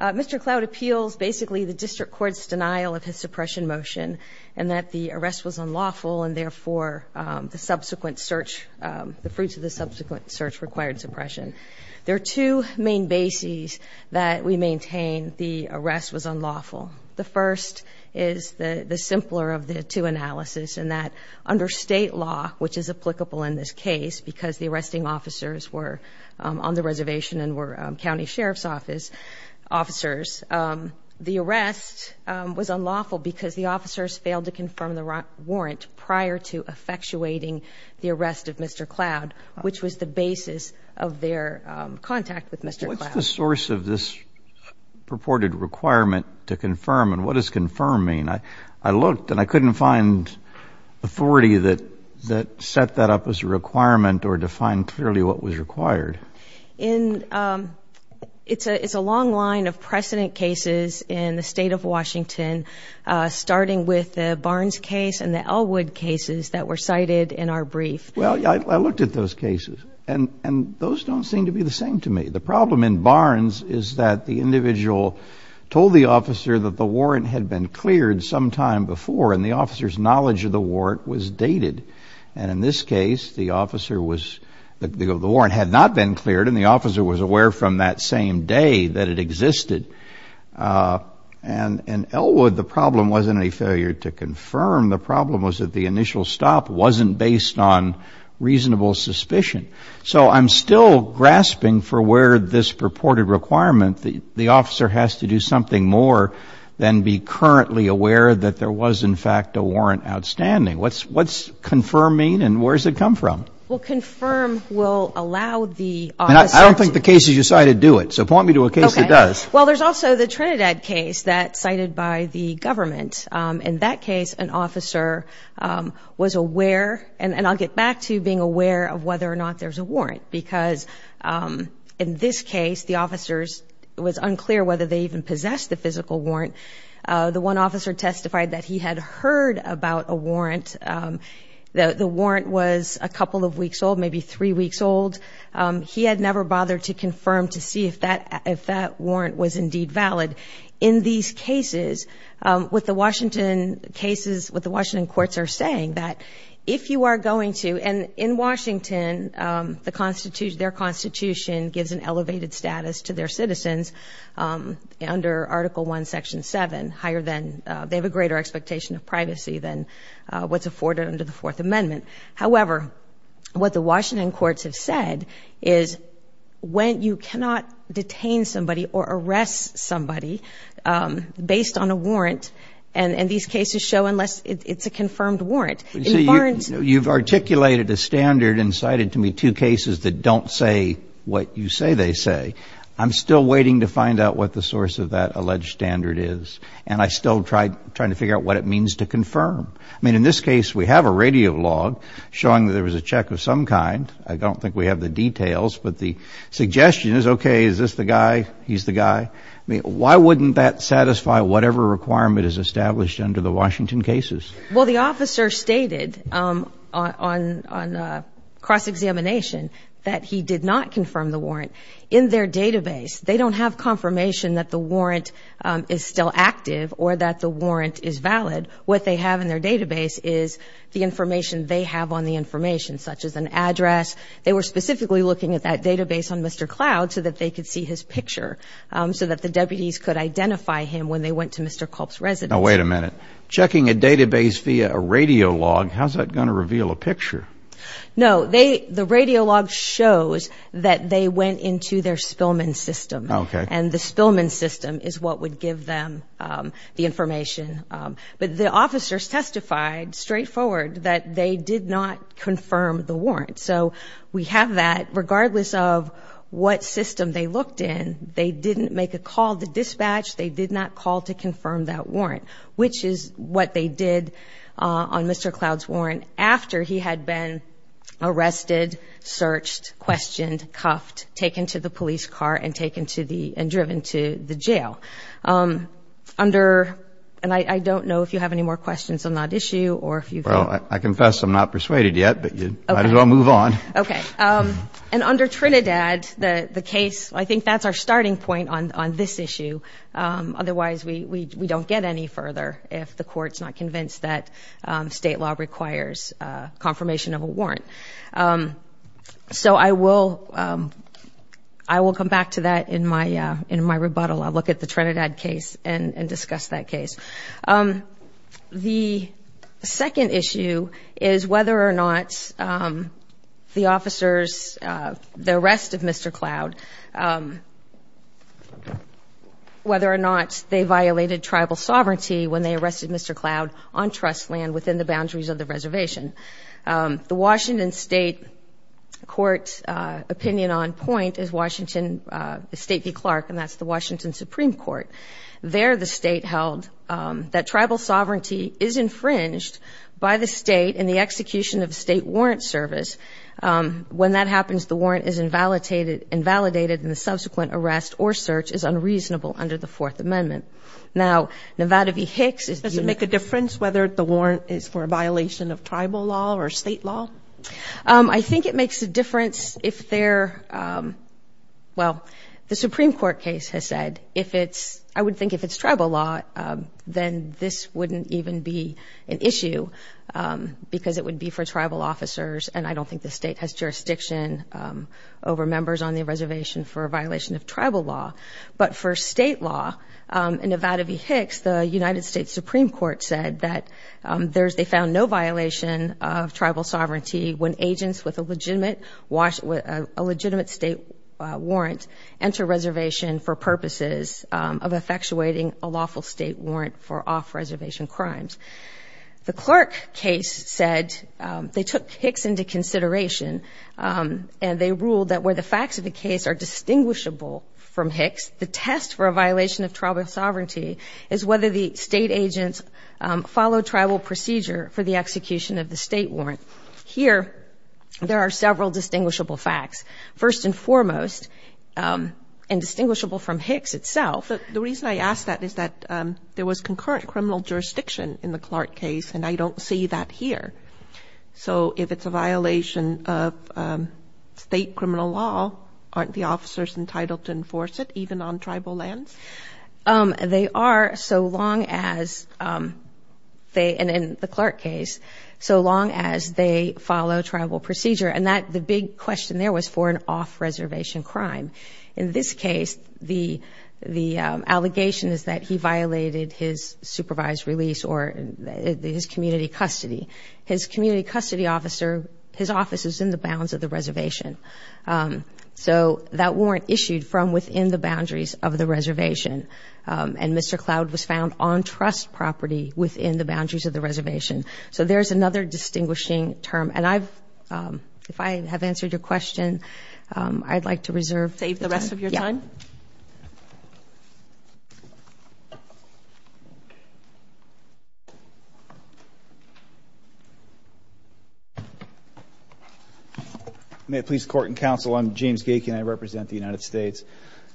Mr. Cloud appeals basically the District Court's denial of his suppression motion and that the arrest was unlawful and therefore the subsequent search, the fruits of the subsequent search required suppression. There are two main bases that we maintain the arrest was unlawful. The first is the simpler of the two analysis and that under state law, which is applicable in this case because the arresting officers were on the reservation and were county sheriff's office officers, the arrest was unlawful because the officers failed to confirm the warrant prior to effectuating the arrest of Mr. Cloud, which was the basis of their contact with Mr. Cloud. What's the source of this purported requirement to confirm and what does confirm mean? I looked and I couldn't find authority that set that up as a requirement or defined clearly what was required. It's a long line of precedent cases in the state of Washington, starting with the Barnes case and the Elwood cases that were cited in our brief. Well, I looked at those cases and those don't seem to be the same to me. The problem in Barnes is that the individual told the officer that the warrant had been cleared sometime before and the officer's knowledge of the warrant was dated. And in this case, the officer was, the warrant had not been cleared and the officer was aware from that same day that it existed. And in Elwood, the problem wasn't a failure to confirm. The problem was that the initial stop wasn't based on reasonable suspicion. So I'm still grasping for where this purported requirement, the officer has to do something more than be currently aware that there was, in fact, a warrant outstanding. What's confirm mean and where does it come from? Well, confirm will allow the officer to. I don't think the case has decided to do it. So point me to a case that does. Well, there's also the Trinidad case that cited by the government. In that case, an officer was aware. And I'll get back to being aware of whether or not there's a warrant, because in this case, the officers, it was unclear whether they even possessed the physical warrant. The one officer testified that he had heard about a warrant. The warrant was a couple of weeks old, maybe three weeks old. He had never bothered to confirm to see if that warrant was indeed valid. In these cases, with the Washington cases, with the Washington courts are saying that if you are going to, and in Washington, their constitution gives an elevated status to their citizens under Article I, Section 7. They have a greater expectation of privacy than what's afforded under the Fourth Amendment. However, what the Washington courts have said is when you cannot detain somebody or arrest somebody based on a warrant, and these cases show unless it's a confirmed warrant. You've articulated a standard and cited to me two cases that don't say what you say they say. I'm still waiting to find out what the source of that alleged standard is. And I'm still trying to figure out what it means to confirm. I mean, in this case, we have a radio log showing that there was a check of some kind. I don't think we have the details, but the suggestion is, okay, is this the guy? He's the guy. I mean, why wouldn't that satisfy whatever requirement is established under the Washington cases? Well, the officer stated on cross-examination that he did not confirm the warrant. In their database, they don't have confirmation that the warrant is still active or that the warrant is valid. What they have in their database is the information they have on the information, such as an address. They were specifically looking at that database on Mr. Cloud so that they could see his picture, so that the deputies could identify him when they went to Mr. Culp's residence. Now, wait a minute. Checking a database via a radio log, how's that going to reveal a picture? No. The radio log shows that they went into their spillman system. Okay. And the spillman system is what would give them the information. But the officers testified straightforward that they did not confirm the warrant. So we have that. Regardless of what system they looked in, they didn't make a call to dispatch. They did not call to confirm that warrant, which is what they did on Mr. Cloud's warrant after he had been arrested, searched, questioned, cuffed, taken to the police car, and driven to the jail. And I don't know if you have any more questions on that issue. Well, I confess I'm not persuaded yet, but you might as well move on. Okay. And under Trinidad, the case, I think that's our starting point on this issue. Otherwise, we don't get any further if the court's not convinced that state law requires confirmation of a warrant. So I will come back to that in my rebuttal. I'll look at the Trinidad case and discuss that case. The second issue is whether or not the officers, the arrest of Mr. Cloud, whether or not they violated tribal sovereignty when they arrested Mr. Cloud on trust land within the boundaries of the reservation. The Washington State Court's opinion on point is Washington State v. Clark, and that's the Washington Supreme Court. There the state held that tribal sovereignty is infringed by the state in the execution of a state warrant service. When that happens, the warrant is invalidated, and the subsequent arrest or search is unreasonable under the Fourth Amendment. Now, Nevada v. Hicks is the unit. Does that make a difference whether the warrant is for a violation of tribal law or state law? I think it makes a difference if they're – well, the Supreme Court case has said if it's – I would think if it's tribal law, then this wouldn't even be an issue because it would be for tribal officers, and I don't think the state has jurisdiction over members on the reservation for a violation of tribal law. But for state law, in Nevada v. Hicks, the United States Supreme Court said that there's – they found no violation of tribal sovereignty when agents with a legitimate state warrant enter reservation for purposes of effectuating a lawful state warrant for off-reservation crimes. The Clark case said they took Hicks into consideration, and they ruled that where the facts of the case are distinguishable from Hicks, the test for a violation of tribal sovereignty is whether the state agents follow tribal procedure for the execution of the state warrant. Here, there are several distinguishable facts, first and foremost, and distinguishable from Hicks itself. But the reason I ask that is that there was concurrent criminal jurisdiction in the Clark case, and I don't see that here. So if it's a violation of state criminal law, aren't the officers entitled to enforce it even on tribal lands? They are so long as they – and in the Clark case, so long as they follow tribal procedure. And that – the big question there was for an off-reservation crime. In this case, the allegation is that he violated his supervised release or his community custody. His community custody officer – his office is in the bounds of the reservation. So that warrant issued from within the boundaries of the reservation, and Mr. Cloud was found on trust property within the boundaries of the reservation. So there's another distinguishing term. And I've – if I have answered your question, I'd like to reserve the time. May it please the Court and Counsel, I'm James Gake, and I represent the United States.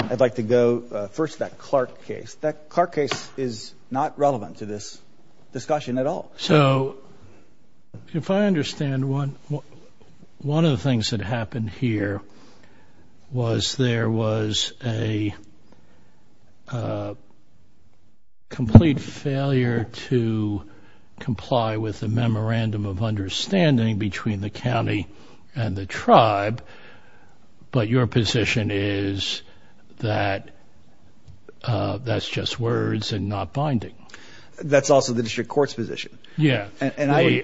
I'd like to go first to that Clark case. That Clark case is not relevant to this discussion at all. So if I understand, one of the things that happened here was there was a complete failure to comply with the memorandum of understanding between the county and the tribe, but your position is that that's just words and not binding. That's also the district court's position. Yeah.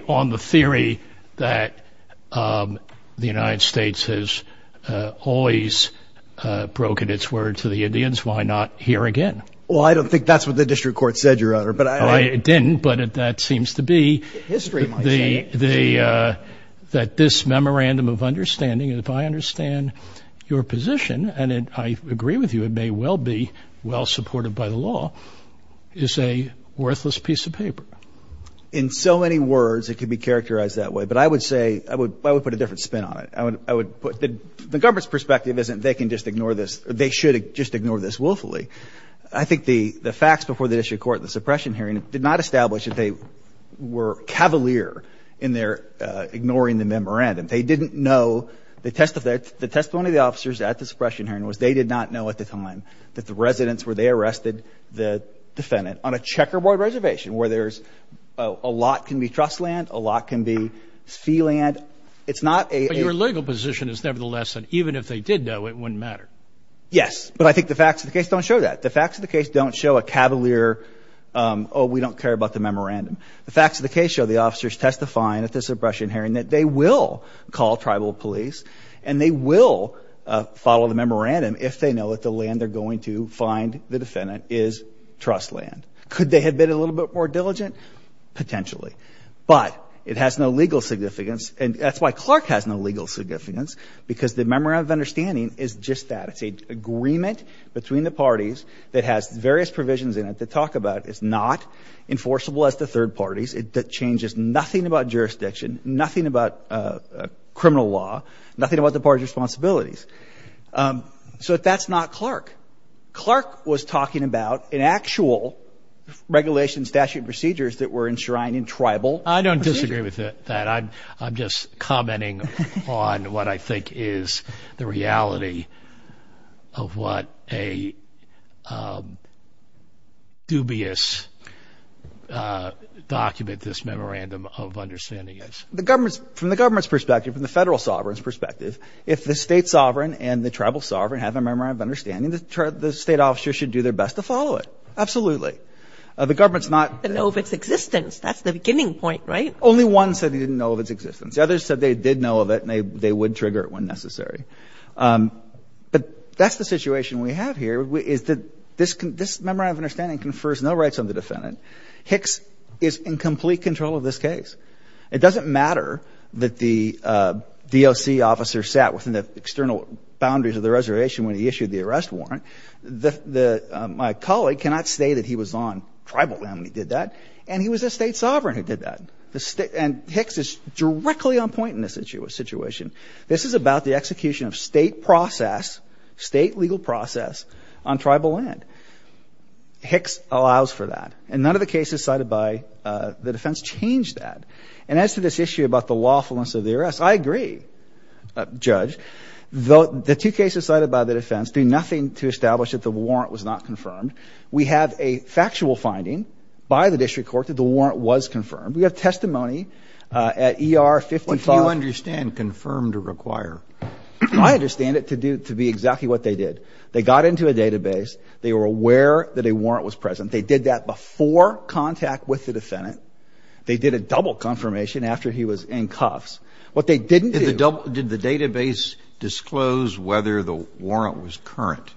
On the theory that the United States has always broken its word to the Indians, why not here again? Well, I don't think that's what the district court said, Your Honor. It didn't, but that seems to be the – that this memorandum of understanding, and if I understand your position, and I agree with you it may well be well supported by the law, is a worthless piece of paper. In so many words, it could be characterized that way, but I would say – I would put a different spin on it. I would put – the government's perspective isn't they can just ignore this – they should just ignore this willfully. I think the facts before the district court in the suppression hearing did not establish that they were cavalier in their ignoring the memorandum. They didn't know – the testimony of the officers at the suppression hearing was they did not know at the time that the residents were – they arrested the defendant on a checkerboard reservation where there's – a lot can be trust land, a lot can be fee land. It's not a – But your legal position is nevertheless that even if they did know, it wouldn't matter. Yes, but I think the facts of the case don't show that. The facts of the case don't show a cavalier, oh, we don't care about the memorandum. The facts of the case show the officers testifying at the suppression hearing that they will call tribal police and they will follow the memorandum if they know that the land they're going to find the defendant is trust land. Could they have been a little bit more diligent? Potentially. But it has no legal significance, and that's why Clark has no legal significance, because the memorandum of understanding is just that. It's an agreement between the parties that has various provisions in it to talk about. It's not enforceable as to third parties. It changes nothing about jurisdiction, nothing about criminal law, nothing about the parties' responsibilities. So that's not Clark. Clark was talking about an actual regulation statute procedures that were enshrined in tribal procedures. I agree with that. I'm just commenting on what I think is the reality of what a dubious document this memorandum of understanding is. From the government's perspective, from the federal sovereign's perspective, if the state sovereign and the tribal sovereign have a memorandum of understanding, the state officer should do their best to follow it. Absolutely. The government's not. They know of its existence. That's the beginning point, right? Only one said they didn't know of its existence. The others said they did know of it and they would trigger it when necessary. But that's the situation we have here, is that this memorandum of understanding confers no rights on the defendant. Hicks is in complete control of this case. It doesn't matter that the DOC officer sat within the external boundaries of the reservation when he issued the arrest warrant. My colleague cannot say that he was on tribal land when he did that. And he was a state sovereign who did that. And Hicks is directly on point in this situation. This is about the execution of state process, state legal process, on tribal land. Hicks allows for that. And none of the cases cited by the defense change that. And as to this issue about the lawfulness of the arrest, I agree, Judge. The two cases cited by the defense do nothing to establish that the warrant was not confirmed. We have a factual finding by the district court that the warrant was confirmed. We have testimony at ER 55. What do you understand, confirmed or required? I understand it to be exactly what they did. They got into a database. They were aware that a warrant was present. They did that before contact with the defendant. They did a double confirmation after he was in cuffs. What they didn't do. Did the database disclose whether the warrant was current?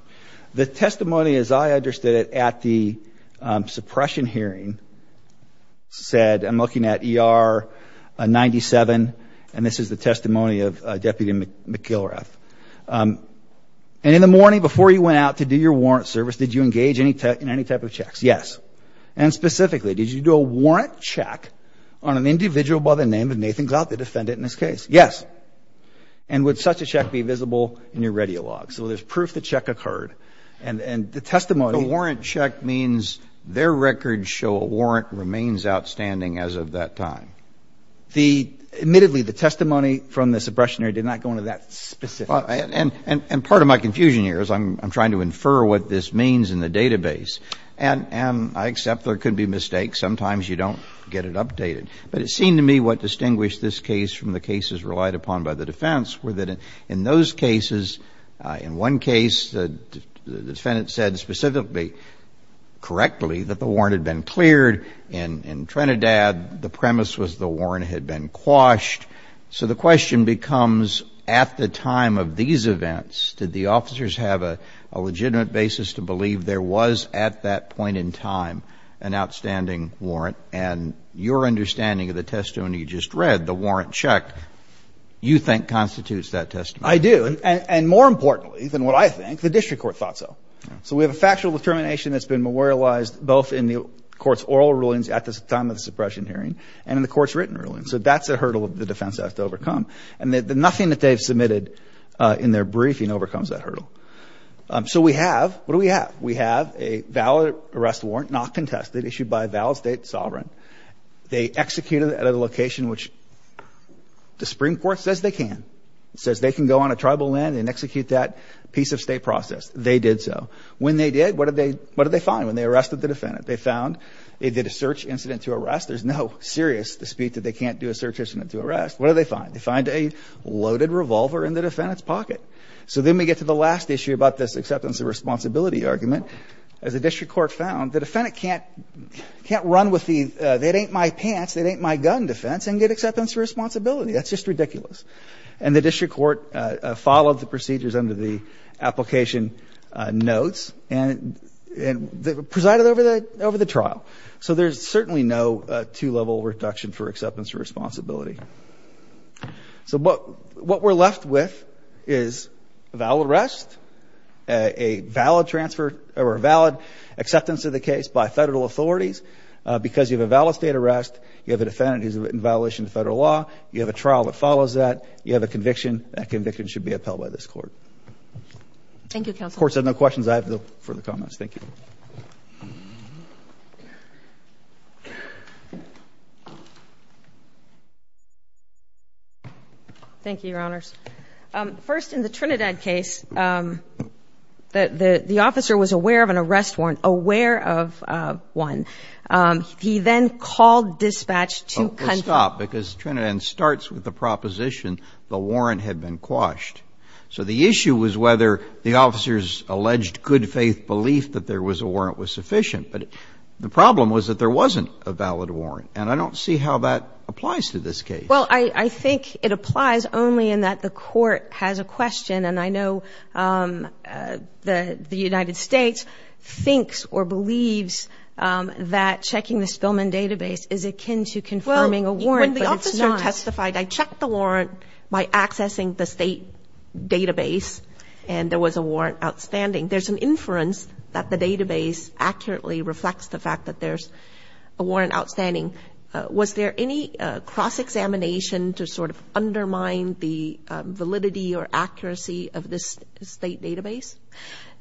The testimony as I understood it at the suppression hearing said, I'm looking at ER 97. And this is the testimony of Deputy McIlrath. And in the morning before you went out to do your warrant service, did you engage in any type of checks? Yes. And specifically, did you do a warrant check on an individual by the name of Nathan Glatt, the defendant in this case? Yes. And would such a check be visible in your radiolog? So there's proof the check occurred. And the testimony. The warrant check means their records show a warrant remains outstanding as of that time. The ‑‑ admittedly, the testimony from the suppression hearing did not go into that specific. And part of my confusion here is I'm trying to infer what this means in the database. And I accept there could be mistakes. Sometimes you don't get it updated. But it seemed to me what distinguished this case from the cases relied upon by the In one case, the defendant said specifically, correctly, that the warrant had been cleared. In Trinidad, the premise was the warrant had been quashed. So the question becomes, at the time of these events, did the officers have a legitimate basis to believe there was at that point in time an outstanding warrant? And your understanding of the testimony you just read, the warrant check, you think constitutes that testimony. I do. And more importantly than what I think, the district court thought so. So we have a factual determination that's been memorialized both in the court's oral rulings at the time of the suppression hearing and in the court's written ruling. So that's a hurdle the defense has to overcome. And nothing that they've submitted in their briefing overcomes that hurdle. So we have ‑‑ what do we have? We have a valid arrest warrant, not contested, issued by a valid state sovereign. They executed it at a location which the Supreme Court says they can. It says they can go on a tribal land and execute that piece of state process. They did so. When they did, what did they find when they arrested the defendant? They found they did a search incident to arrest. There's no serious dispute that they can't do a search incident to arrest. What did they find? They find a loaded revolver in the defendant's pocket. So then we get to the last issue about this acceptance of responsibility argument. As the district court found, the defendant can't run with the, that ain't my pants, that ain't my gun defense, and get acceptance of responsibility. That's just ridiculous. And the district court followed the procedures under the application notes and presided over the trial. So there's certainly no two‑level reduction for acceptance of responsibility. So what we're left with is a valid arrest, a valid transfer, or a valid acceptance of the case by federal authorities because you have a valid state arrest, you have a defendant who's in violation of federal law, you have a trial that follows that, you have a conviction, that conviction should be upheld by this court. Thank you, counsel. Of course, if there are no questions, I have no further comments. Thank you. Thank you, Your Honors. First, in the Trinidad case, the officer was aware of an arrest warrant, aware of one. He then called dispatch to ‑‑ I'm going to stop because Trinidad starts with the proposition the warrant had been quashed. So the issue was whether the officer's alleged good faith belief that there was a warrant was sufficient. But the problem was that there wasn't a valid warrant, and I don't see how that applies to this case. Well, I think it applies only in that the court has a question, and I know the United States thinks or believes that checking the Spillman database is akin to confirming a warrant, but it's not. Well, when the officer testified, I checked the warrant by accessing the state database, and there was a warrant outstanding. There's an inference that the database accurately reflects the fact that there's a warrant outstanding. Was there any cross‑examination to sort of undermine the validity or accuracy of this state database?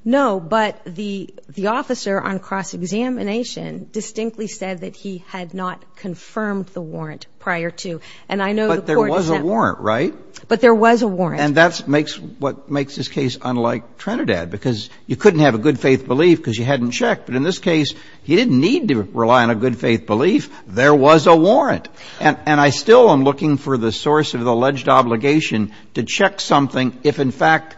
No, but the officer on cross‑examination distinctly said that he had not confirmed the warrant prior to. And I know the court is not ‑‑ But there was a warrant, right? But there was a warrant. And that's what makes this case unlike Trinidad, because you couldn't have a good faith belief because you hadn't checked. But in this case, he didn't need to rely on a good faith belief. There was a warrant. And I still am looking for the source of the alleged obligation to check something if, in fact,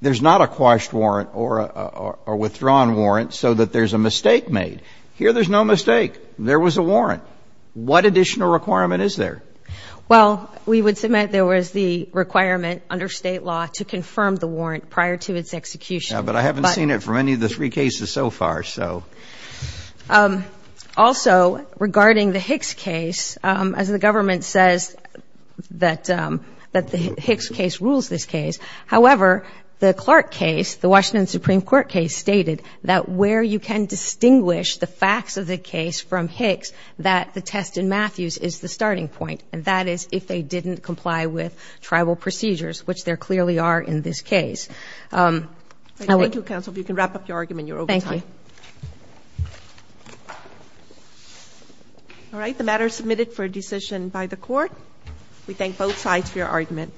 there's not a quashed warrant or a withdrawn warrant so that there's a mistake made. Here there's no mistake. There was a warrant. What additional requirement is there? Well, we would submit there was the requirement under state law to confirm the warrant prior to its execution. Yeah, but I haven't seen it for any of the three cases so far, so. Also, regarding the Hicks case, as the government says that the Hicks case rules this case, however, the Clark case, the Washington Supreme Court case, stated that where you can distinguish the facts of the case from Hicks, that the test in Matthews is the starting point, and that is if they didn't comply with tribal procedures, which there clearly are in this case. Thank you, counsel. If you can wrap up your argument, you're over time. Thank you. All right, the matter is submitted for decision by the court. We thank both sides for your argument.